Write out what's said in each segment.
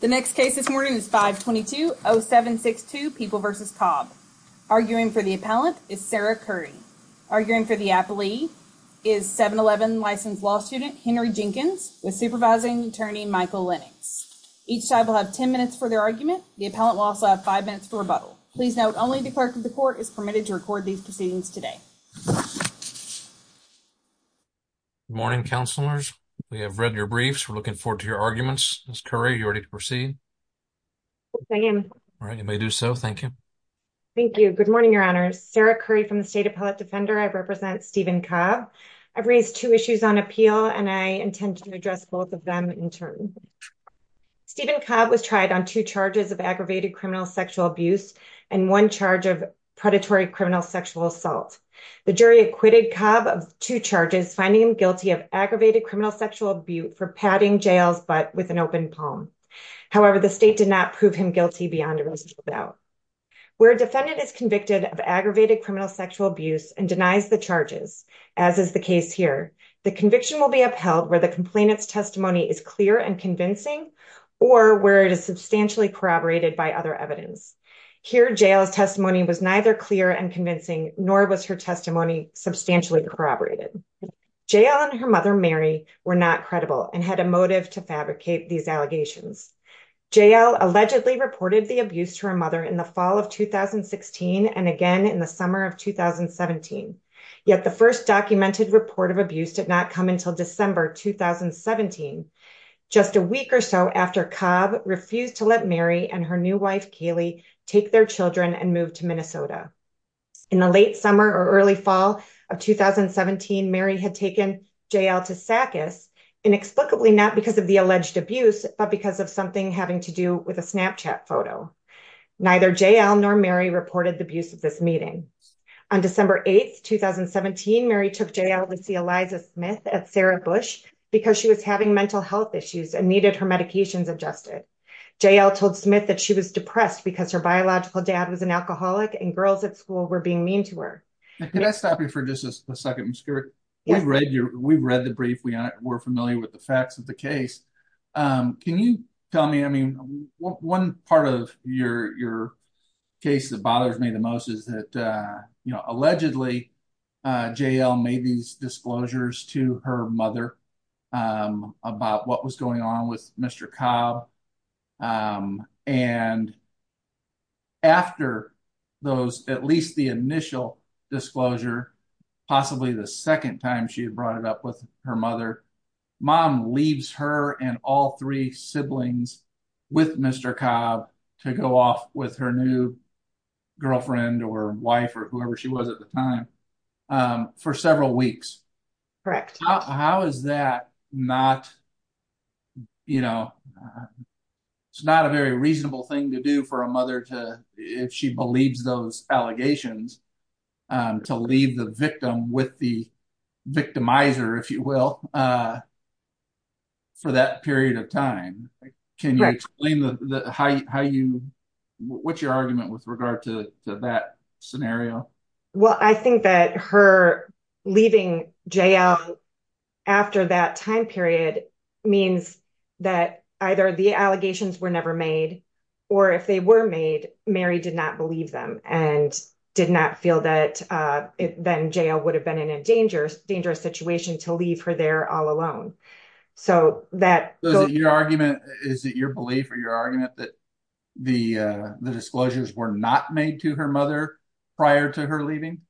The next case this morning is 522-0762, People v. Cobb. Arguing for the appellant is Sarah Curry. Arguing for the appellee is 7-11 licensed law student Henry Jenkins, with supervising attorney Michael Lennox. Each side will have 10 minutes for their argument. The appellant will also have 5 minutes for rebuttal. Please note, only the clerk of the court is permitted to record these proceedings today. Good morning, counselors. We have read your briefs. We're looking forward to your arguments. Ms. Curry, are you ready to proceed? All right, you may do so. Thank you. Thank you. Good morning, your honors. Sarah Curry from the State Appellate Defender. I represent Stephen Cobb. I've raised two issues on appeal and I intend to address both of them in turn. Stephen Cobb was tried on two charges of aggravated criminal sexual abuse and one charge of predatory criminal sexual assault. The jury acquitted Cobb of two charges, finding him guilty of aggravated criminal sexual abuse for patting jails but with an open palm. However, the state did not prove him guilty beyond a reasonable doubt. Where a defendant is convicted of aggravated criminal sexual abuse and denies the charges, as is the case here, the conviction will be upheld where the complainant's testimony is clear and convincing or where it is substantially corroborated by other evidence. Here, jail's testimony was neither clear and convincing nor was her testimony substantially corroborated. JL and her mother, Mary, were not credible and had a motive to fabricate these allegations. JL allegedly reported the abuse to her mother in the fall of 2016 and again in the summer of 2017. Yet the first documented report of abuse did not come until December 2017, just a week or so after Cobb refused to let Mary and her new wife, Kaylee, take their children and move to Minnesota. In the late summer or early fall of 2017, Mary had taken JL to SACUS inexplicably not because of the alleged abuse but because of something having to do with a Snapchat photo. Neither JL nor Mary reported the abuse of this meeting. On December 8th, 2017, Mary took JL to see Eliza Smith at Sarah Bush because she was having mental health issues and needed her medications adjusted. JL told Smith that she was depressed because her biological dad was an alcoholic and girls at school were being mean to her. Now, can I stop you for just a second, Ms. Kirk? Yeah. We've read the brief, we're familiar with the facts of the case. Can you tell me, I mean, one part of your case that bothers me the most is that, you know, allegedly JL made these disclosures to her mother about what was going on with Mr. Cobb and after those, at least the initial disclosure, possibly the second time she had brought it up with her mother, mom leaves her and all three siblings with Mr. Cobb to go off with her new girlfriend or wife or whoever she was at the time for several weeks. Correct. How is that not, you know, it's not a very reasonable thing to do for a mother to, if she believes those allegations, to leave the victim with the victimizer, if you will, for that period of time. Can you explain how you, what's your argument with regard to that scenario? Well, I think that her leaving JL after that time period means that either the allegations were never made or if they were made, Mary did not believe them and did not feel that then JL would have been in a dangerous, dangerous situation to leave her there all alone. So that. So is it your argument, is it your belief or your argument that the disclosures were not made to her mother prior to her leaving?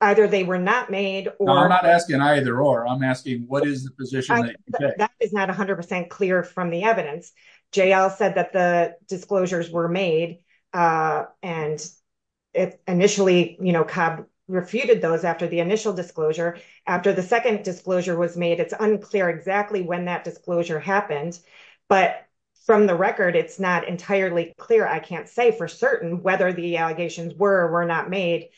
Either they were not made or. I'm not asking either or, I'm asking what is the position that you take? That is not 100% clear from the evidence. JL said that the disclosures were made and initially, you know, Cobb refuted those after the initial disclosure. After the second disclosure was made, it's unclear exactly when that disclosure happened, but from the record, it's not entirely clear. I can't say for certain whether the allegations were or were not made,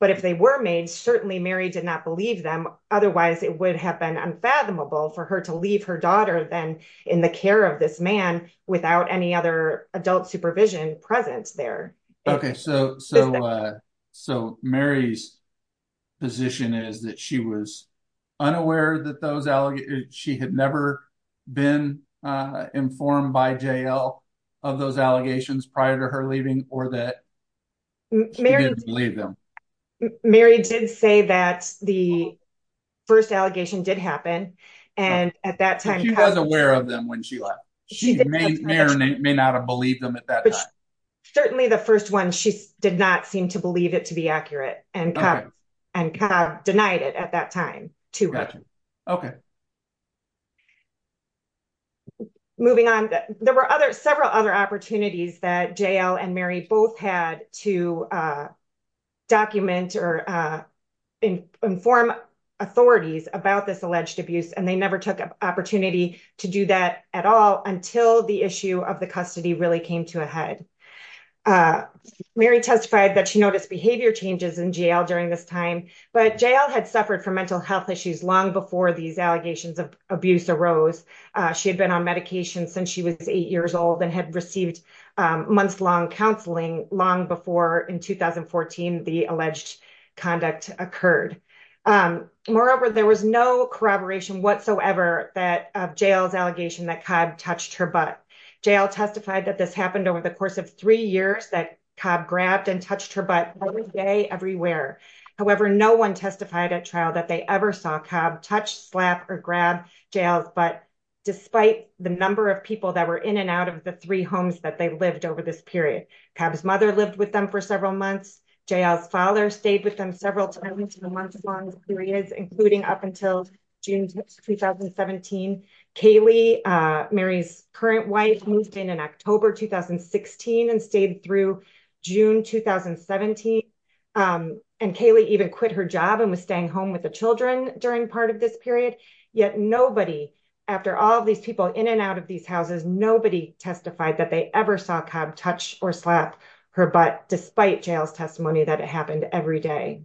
but if they were made, certainly Mary did not believe them. Otherwise, it would have been unfathomable for her to leave her daughter then in the care of this man without any other adult supervision presence there. Okay, so Mary's position is that she was unaware that those, she had never been informed by JL of those allegations prior to her leaving or that she didn't believe them. Mary did say that the first allegation did happen and at that time. She was aware of them when she left. She may or may not have believed them at that time. Certainly the first one, she did not seem to believe it to be accurate and Cobb denied it at that time too. Okay. Moving on, there were other several other opportunities that JL and Mary both had to document or inform authorities about this alleged abuse and they never took opportunity to do that at all until the issue of the custody really came to a head. Mary testified that she noticed behavior changes in JL during this time, but JL had suffered from mental health issues long before these allegations of abuse arose. She had been on medication since she was eight years old and had received months-long counseling long before in 2014 the alleged conduct occurred. Moreover, there was no corroboration whatsoever of JL's allegation that Cobb touched her butt. JL testified that this happened over the course of three years that Cobb grabbed and touched her butt every day everywhere. However, no one testified at trial that they ever saw Cobb touch, slap, or grab JL's butt despite the number of people that were in and out of the three homes that they lived over this period. Cobb's mother lived with them for several months. JL's father stayed with them several times for months-long periods, including up until June 2017. Kaylee, Mary's current wife, moved in in October 2016 and stayed through June 2017. Kaylee even quit her job and was staying home with the children during part of this period. Yet nobody, after all of these people in and out of these houses, nobody testified that they ever saw Cobb touch or slap her butt despite JL's testimony that it happened every day.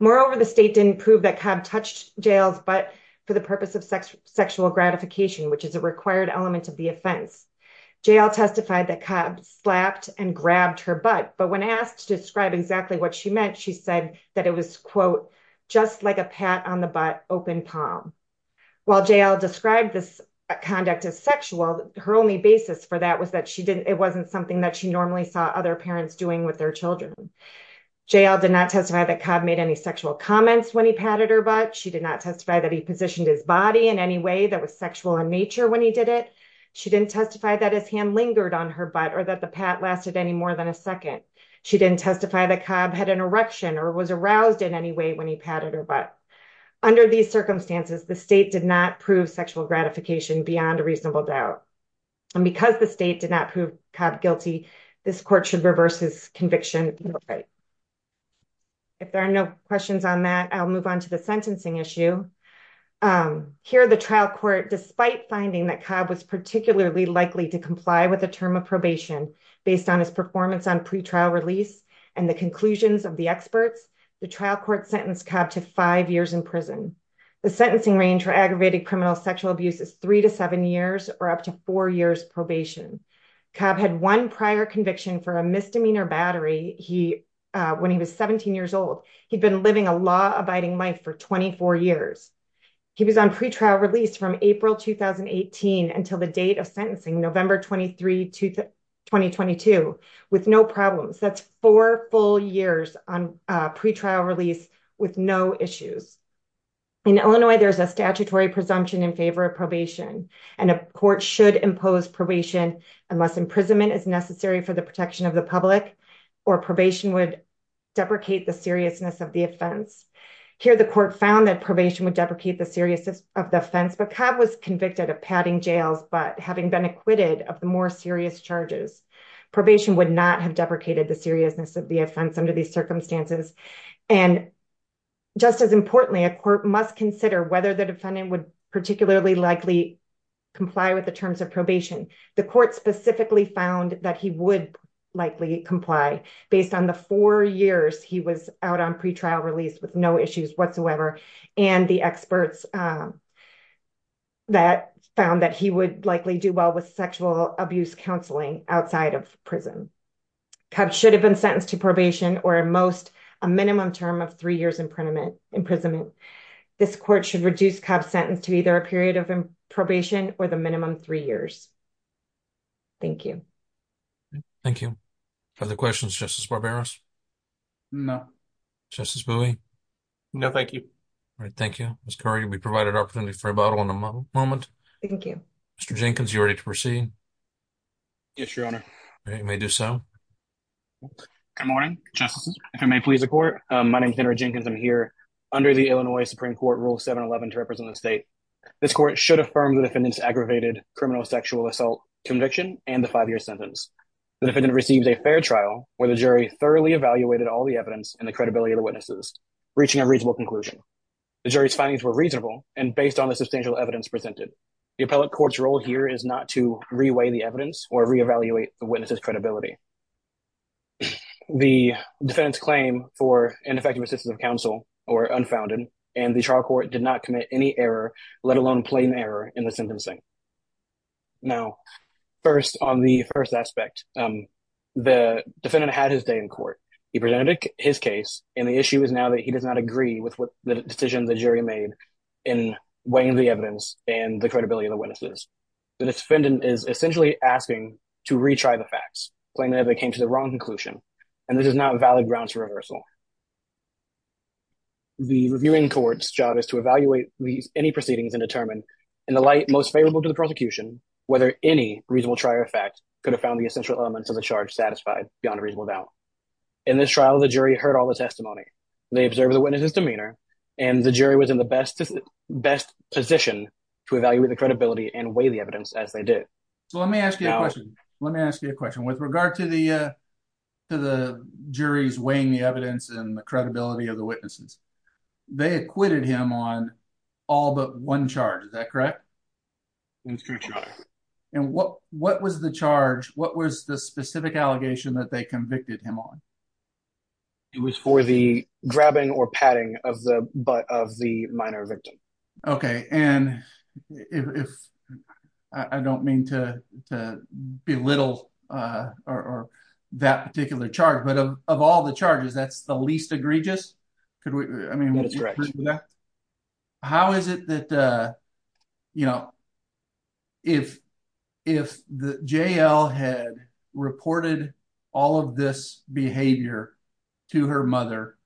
Moreover, the state didn't prove that Cobb touched JL's butt for the purpose of sexual gratification, which is a required element of the offense. JL testified that Cobb slapped and grabbed her butt, but when asked to describe exactly what she meant, she said that it was, quote, just like a pat on the butt, open palm. While JL described this conduct as sexual, her only basis for that was that she didn't, it wasn't something that she normally saw other parents doing with their children. JL did not testify that Cobb made any sexual comments when he patted her butt. She did not testify that he positioned his body in any way that was sexual in nature when he did it. She didn't testify that his hand lingered on her butt or that the pat lasted any more than a second. She didn't testify that Cobb had an erection or was aroused in any way when he patted her butt. Under these circumstances, the state did not prove sexual gratification beyond a reasonable doubt. And because the state did not prove Cobb guilty, this court should reverse his conviction. If there are no questions on that, I'll move on to the sentencing issue. Here, the trial court, despite finding that Cobb was particularly likely to comply with a term of probation based on his performance on pretrial release and the conclusions of the prison. The sentencing range for aggravated criminal sexual abuse is three to seven years or up to four years probation. Cobb had one prior conviction for a misdemeanor battery. He, when he was 17 years old, he'd been living a law abiding life for 24 years. He was on pretrial release from April, 2018 until the date of sentencing, November 23, 2022 with no problems. That's four full years on a pretrial release with no issues. In Illinois, there's a statutory presumption in favor of probation and a court should impose probation unless imprisonment is necessary for the protection of the public or probation would deprecate the seriousness of the offense. Here, the court found that probation would deprecate the seriousness of the offense, but Cobb was convicted of patting jails, but having been acquitted of the more serious charges, probation would not have deprecated the seriousness of the offense under these circumstances. And just as importantly, a court must consider whether the defendant would particularly likely comply with the terms of probation. The court specifically found that he would likely comply based on the four years he was out on pretrial release with no issues whatsoever. And the experts that found that he would likely do well with sexual abuse counseling outside of prison. Cobb should have been sentenced to probation or at most a minimum term of three years imprisonment. This court should reduce Cobb sentence to either a period of probation or the minimum three years. Thank you. Thank you. Other questions, Justice Barberos? No. Justice Bowie? No, thank you. All right. Thank you. Ms. Curry, we provided opportunity for rebuttal in a moment. Thank you. Mr. Jenkins, you ready to proceed? Yes, Your Honor. You may do so. Good morning, Justice. If I may please the court, my name is Henry Jenkins. I'm here under the Illinois Supreme Court Rule 711 to represent the state. This court should affirm the defendant's aggravated criminal sexual assault conviction and the five-year sentence. The defendant received a fair trial where the jury thoroughly evaluated all the evidence and the credibility of the witnesses, reaching a reasonable conclusion. The jury's findings were the appellate court's role here is not to reweigh the evidence or reevaluate the witness's credibility. The defendant's claim for ineffective assistance of counsel were unfounded and the trial court did not commit any error, let alone plain error, in the sentencing. Now, first on the first aspect, the defendant had his day in court. He presented his case and the issue is now that he does not in weighing the evidence and the credibility of the witnesses. The defendant is essentially asking to retry the facts, plainly that they came to the wrong conclusion, and this is not valid grounds for reversal. The reviewing court's job is to evaluate any proceedings and determine, in the light most favorable to the prosecution, whether any reasonable trial fact could have found the essential elements of the charge satisfied beyond a reasonable doubt. In this trial, the jury heard all the testimony. They observed the best position to evaluate the credibility and weigh the evidence as they did. So let me ask you a question. Let me ask you a question. With regard to the jury's weighing the evidence and the credibility of the witnesses, they acquitted him on all but one charge. Is that correct? That's correct, your honor. And what was the charge? What was the specific allegation that they convicted him on? It was for the grabbing or patting of the butt of the minor victim. Okay. I don't mean to belittle that particular charge, but of all the charges, that's the least behavior to her mother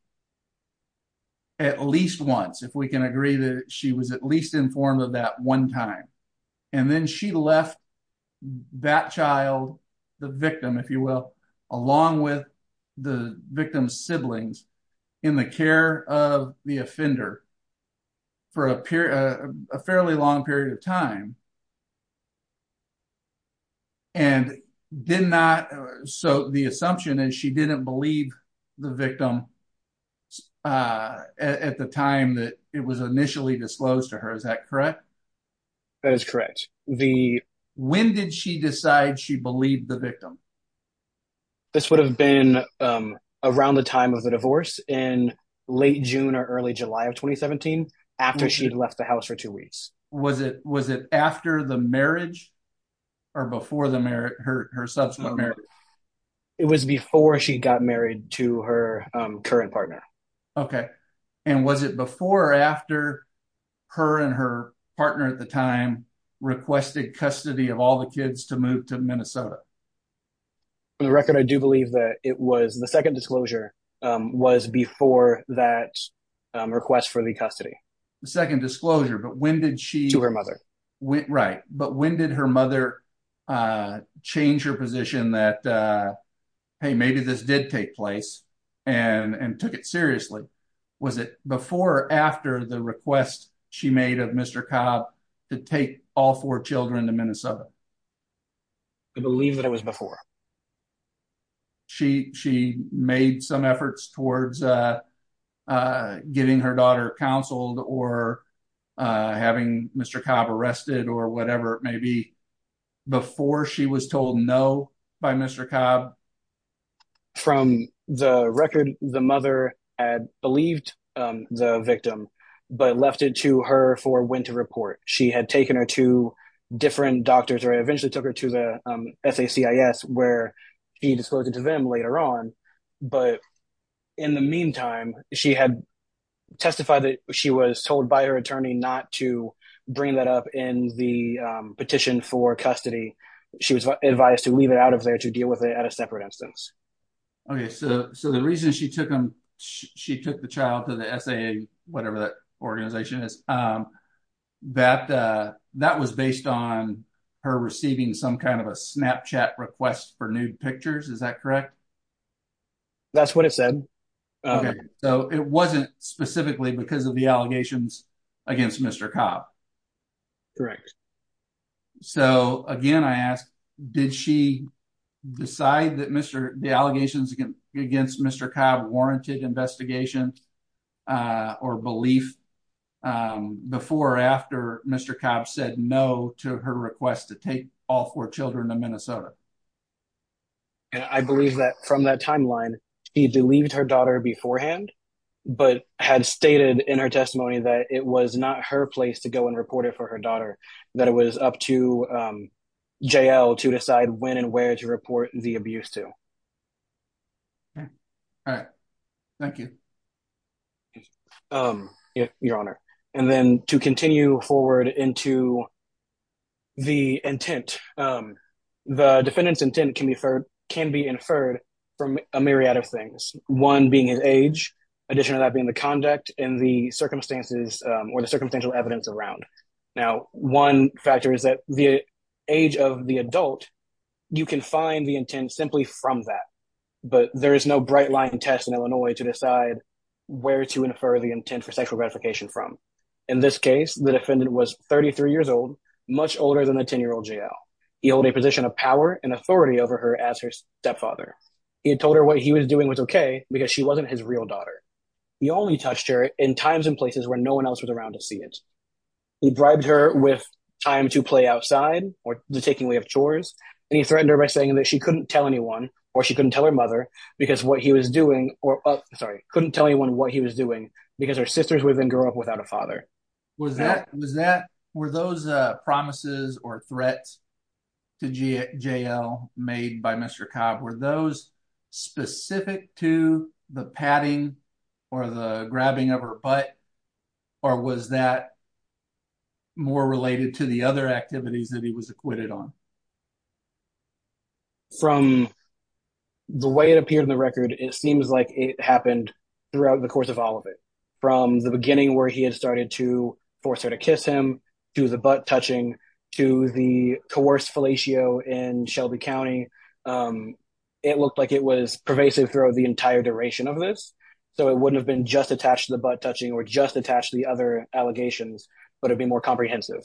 at least once, if we can agree that she was at least informed of that one time. And then she left that child, the victim, if you will, along with the victim's siblings in the care of the offender for a fairly long period of time. And did not, so the assumption is she didn't believe the victim at the time that it was initially disclosed to her. Is that correct? That is correct. The, when did she decide she believed the victim? This would have been around the time of the divorce in late June or early July of 2017 after she'd left the house for two weeks. Was it, was it after the marriage or before the marriage, her, her subsequent marriage? It was before she got married to her current partner. Okay. And was it before or after her and her partner at the time requested custody of all the kids to move to Minnesota? For the record, I do believe that it was, the second disclosure was before that request for the custody. The second disclosure, but when did she? To her mother. Right. But when did her mother change her position that, hey, maybe this did take place and took it seriously? Was it before or after the request she made of Mr. Cobb to take all four children to Minnesota? I believe that it was before. She, she made some efforts towards getting her daughter counseled or having Mr. Cobb arrested or whatever it may be before she was told no by Mr. Cobb. From the record, the mother had believed the victim, but left it to her for when to report. She had taken her to different doctors or eventually took her to the where he disclosed it to them later on. But in the meantime, she had testified that she was told by her attorney not to bring that up in the petition for custody. She was advised to leave it out of there to deal with it at a separate instance. Okay. So, so the reason she took them, she took the child to the SAA, whatever that request for nude pictures. Is that correct? That's what it said. So it wasn't specifically because of the allegations against Mr. Cobb. Correct. So again, I asked, did she decide that Mr. The allegations against Mr. Cobb warranted investigation or belief before or after Mr. Cobb said no to her request to take all four of her children to Minnesota? And I believe that from that timeline, he believed her daughter beforehand, but had stated in her testimony that it was not her place to go and report it for her daughter, that it was up to JL to decide when and where to report the abuse to. All right. Thank you. Um, your honor, and then to continue forward into the intent, um, the defendant's intent can be inferred, can be inferred from a myriad of things. One being his age, addition to that being the conduct and the circumstances, um, or the circumstantial evidence around. Now, one factor is that the age of the adult, you can find the intent simply from that, but there is no bright line test in Illinois to decide where to infer the intent for sexual gratification from. In this case, the defendant was 33 years old, much older than a 10 year old JL. He held a position of power and authority over her as her stepfather. He had told her what he was doing was okay because she wasn't his real daughter. He only touched her in times and places where no one else was around to see it. He bribed her with time to play outside or the taking away of chores. And he threatened her by saying that she couldn't tell anyone or she couldn't tell her mother because what he was doing, or sorry, couldn't tell anyone what he was doing because her sisters would then grow up without a father. Was that, was that, were those promises or threats to JL made by Mr. Cobb, were those specific to the patting or the grabbing of her butt, or was that more related to the other activities that he was acquitted on? From the way it appeared in the record, it seems like it happened throughout the course of all of it. From the beginning where he had started to force her to kiss him, to the butt touching, to the coerced fellatio in Shelby County, it looked like it was pervasive throughout the entire duration of this. So it wouldn't have been just attached to the butt touching or just attached to the other allegations, but it'd be more comprehensive.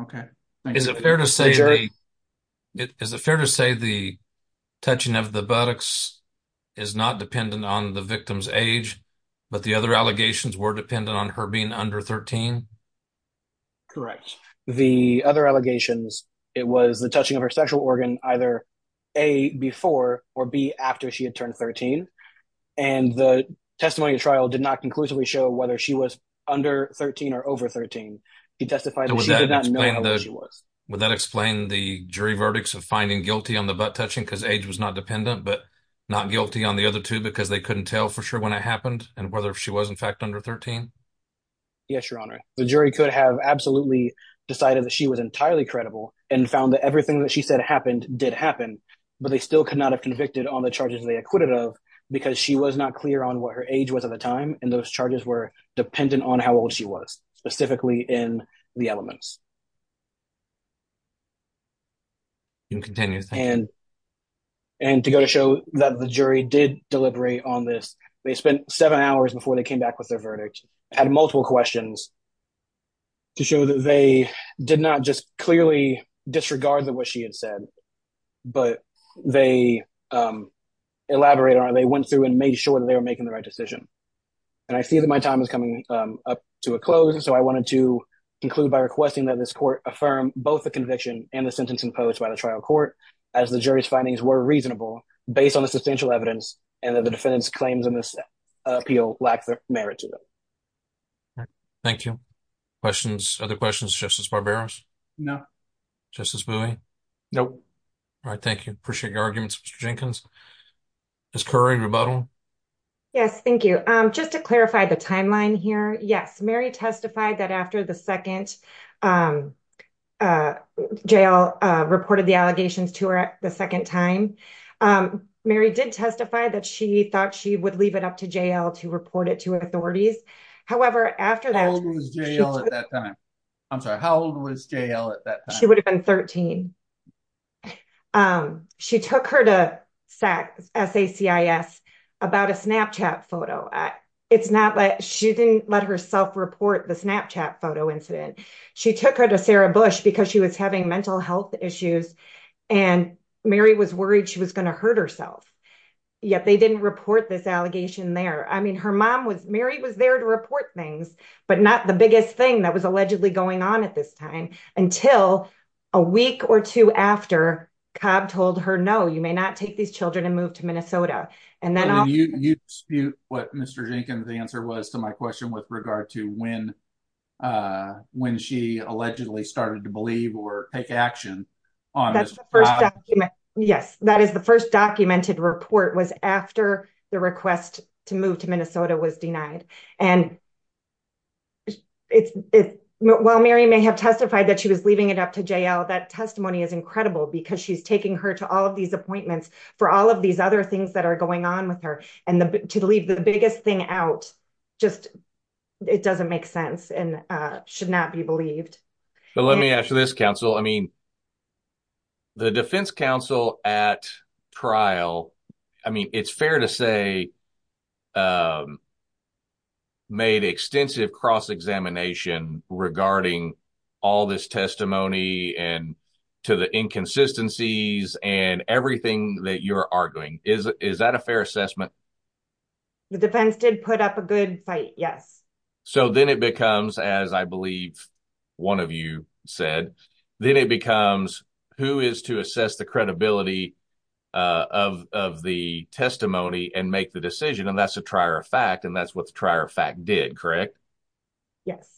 Okay. Is it fair to say, is it fair to say the touching of the buttocks is not dependent on the victim's age, but the other allegations were dependent on her being under 13? Correct. The other allegations, it was the touching of her sexual organ, either A, before or B, after she had turned 13. And the testimony of trial did not conclusively show whether she was under 13 or over 13. She testified that she did not know how old she was. Would that explain the jury verdicts of finding guilty on the butt touching because age was not dependent, but not guilty on the other two because they couldn't tell for sure when it happened and whether she was in fact under 13? Yes, Your Honor. The jury could have absolutely decided that she was entirely credible and found that everything that she said happened did happen, but they still could not have convicted on the charges they acquitted of because she was not clear on what her age was at the time. And those charges were dependent on how old she was, specifically in the elements. You can continue. And to go to show that the jury did deliberate on this, they spent seven hours before they came back with their verdict, had multiple questions to show that they did not just clearly disregard what she had said, but they elaborated on it. They went through and made sure that they were making the right decision. And I see that my time is coming up to a close, so I wanted to conclude by requesting that this court affirm both the conviction and the sentence imposed by the trial court as the jury's findings were reasonable based on the substantial evidence and that the defendant's claims in this appeal lack the merit to them. Thank you. Questions? Other questions? Justice Barberos? No. Justice Bowie? No. All right. Thank you. Appreciate your arguments, Mr. Jenkins. Ms. Curry, rebuttal. Yes, thank you. Just to clarify the timeline here. Yes, Mary testified that after the second, JL reported the allegations to her the second time. Mary did testify that she thought she would leave it up to JL to report it to authorities. However, after that... How old was JL at that time? I'm sorry. How old was JL at that time? She would have been 13. She took her to SACIS about a Snapchat photo. She didn't let herself report the Snapchat photo incident. She took her to Sarah Bush because she was having mental health issues and Mary was worried she was going to hurt herself, yet they didn't report this allegation there. I mean, her mom was... Mary was there to report things, but not the biggest thing that was allegedly going on until a week or two after Cobb told her, no, you may not take these children and move to Minnesota. And then... You dispute what Mr. Jenkins' answer was to my question with regard to when she allegedly started to believe or take action. Yes, that is the first documented report was after the request to move to Minnesota was denied. And while Mary may have testified that she was leaving it up to JL, that testimony is incredible because she's taking her to all of these appointments for all of these other things that are going on with her. And to leave the biggest thing out just... It doesn't make sense and should not be believed. But let me ask you this, counsel. I mean, the defense counsel at trial... I mean, it's fair to say, made extensive cross-examination regarding all this testimony and to the inconsistencies and everything that you're arguing. Is that a fair assessment? The defense did put up a good fight, yes. So then it becomes, as I believe one of you said, then it becomes who is to assess the testimony and make the decision. And that's a trier of fact. And that's what the trier of fact did, correct? Yes,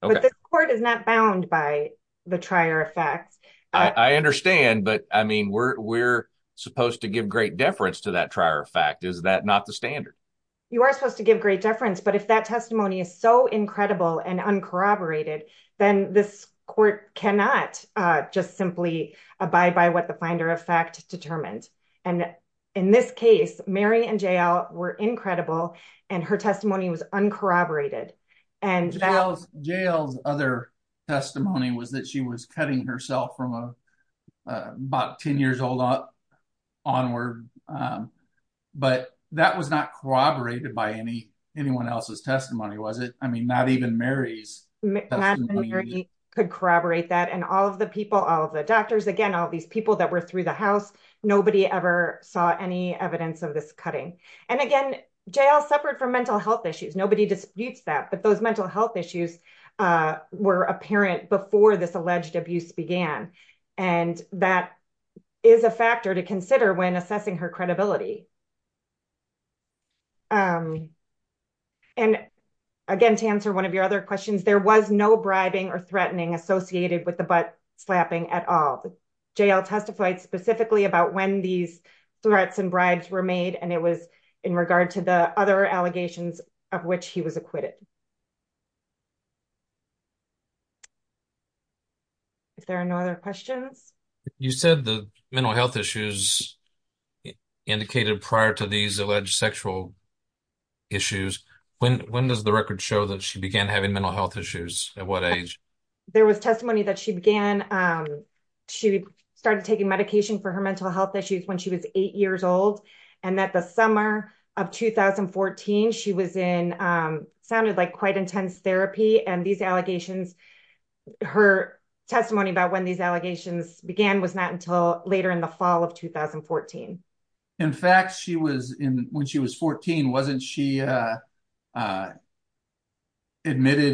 but the court is not bound by the trier of fact. I understand. But I mean, we're supposed to give great deference to that trier of fact. Is that not the standard? You are supposed to give great deference. But if that testimony is so incredible and uncorroborated, then this court cannot just simply abide by what the finder of fact determined. And in this case, Mary and Jael were incredible. And her testimony was uncorroborated. Jael's other testimony was that she was cutting herself from about 10 years old onward. But that was not corroborated by anyone else's testimony, was it? I mean, not even Mary's testimony. Not even Mary could corroborate that. And all of the people, all of the doctors, again, all these people that were through the house, nobody ever saw any evidence of this cutting. And again, Jael suffered from mental health issues. Nobody disputes that. But those mental health issues were apparent before this alleged abuse began. And that is a factor to consider when assessing her credibility. And again, to answer one of your other questions, there was no bribing or threatening associated with the butt slapping at all. Jael testified specifically about when these threats and bribes were made. And it was in regard to the other allegations of which he was acquitted. If there are no other questions. You said the mental health issues indicated prior to these alleged sexual issues. When does the record show that she began having mental health issues? At what age? There was testimony that she began. She started taking medication for her mental health issues when she was eight years old. And that the summer of 2014, she was in, sounded like quite intense therapy. And these allegations, her testimony about when these allegations began was not until later in the fall of 2014. In fact, she was in when she was 14. Wasn't she admitted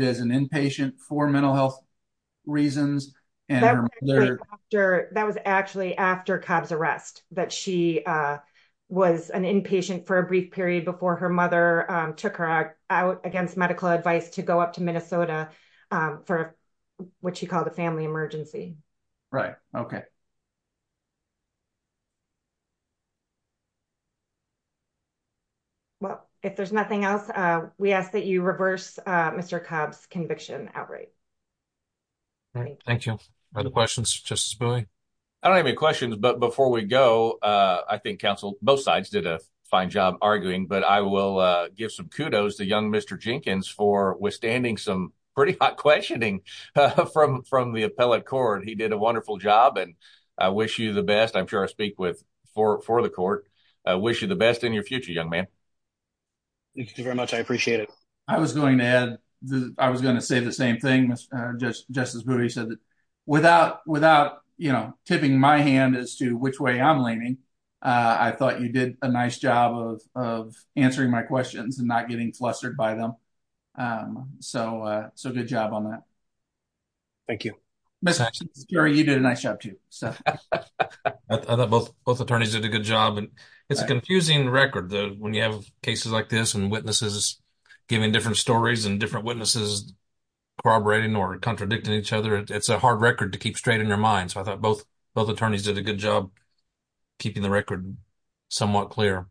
as an inpatient for mental health reasons? That was actually after Cobb's arrest, that she was an inpatient for a brief period before her mother took her out against medical advice to go up to Minnesota for what she called a family emergency. Right. Okay. Well, if there's nothing else, we ask that you reverse Mr. Cobb's conviction outright. Thank you. Other questions, Justice Bowie? I don't have any questions, but before we go, I think counsel, both sides did a fine job arguing, but I will give some kudos to young Mr. Jenkins for withstanding some pretty hot questioning from the appellate court. He did a wonderful job and I wish you the best. I'm sure I speak for the court. I wish you the best in your future, young man. Thank you very much. I appreciate it. I was going to add, I was going to say the same thing, Justice Bowie said that without, without, you know, tipping my hand as to which way I'm leaning, I thought you did a nice job of answering my questions and not getting flustered by them. So, so good job on that. Thank you. Gary, you did a nice job too. So, I thought both, both attorneys did a good job and it's a confusing record when you have cases like this and witnesses giving different stories and different witnesses corroborating or contradicting each other. It's a hard record to keep straight in your mind. So, I thought both, both attorneys did a good job keeping the record somewhat clear.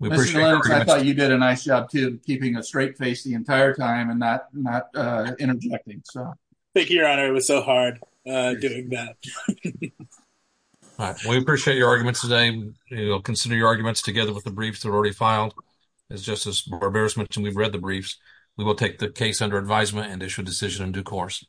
I thought you did a nice job too, keeping a straight face the entire time and not, not interjecting. Thank you, Your Honor. It was so hard doing that. We appreciate your arguments today. You'll consider your arguments together with the briefs that were already filed. As Justice Barbera mentioned, we've read the briefs. We will take the case under advisement and issue a decision in due course.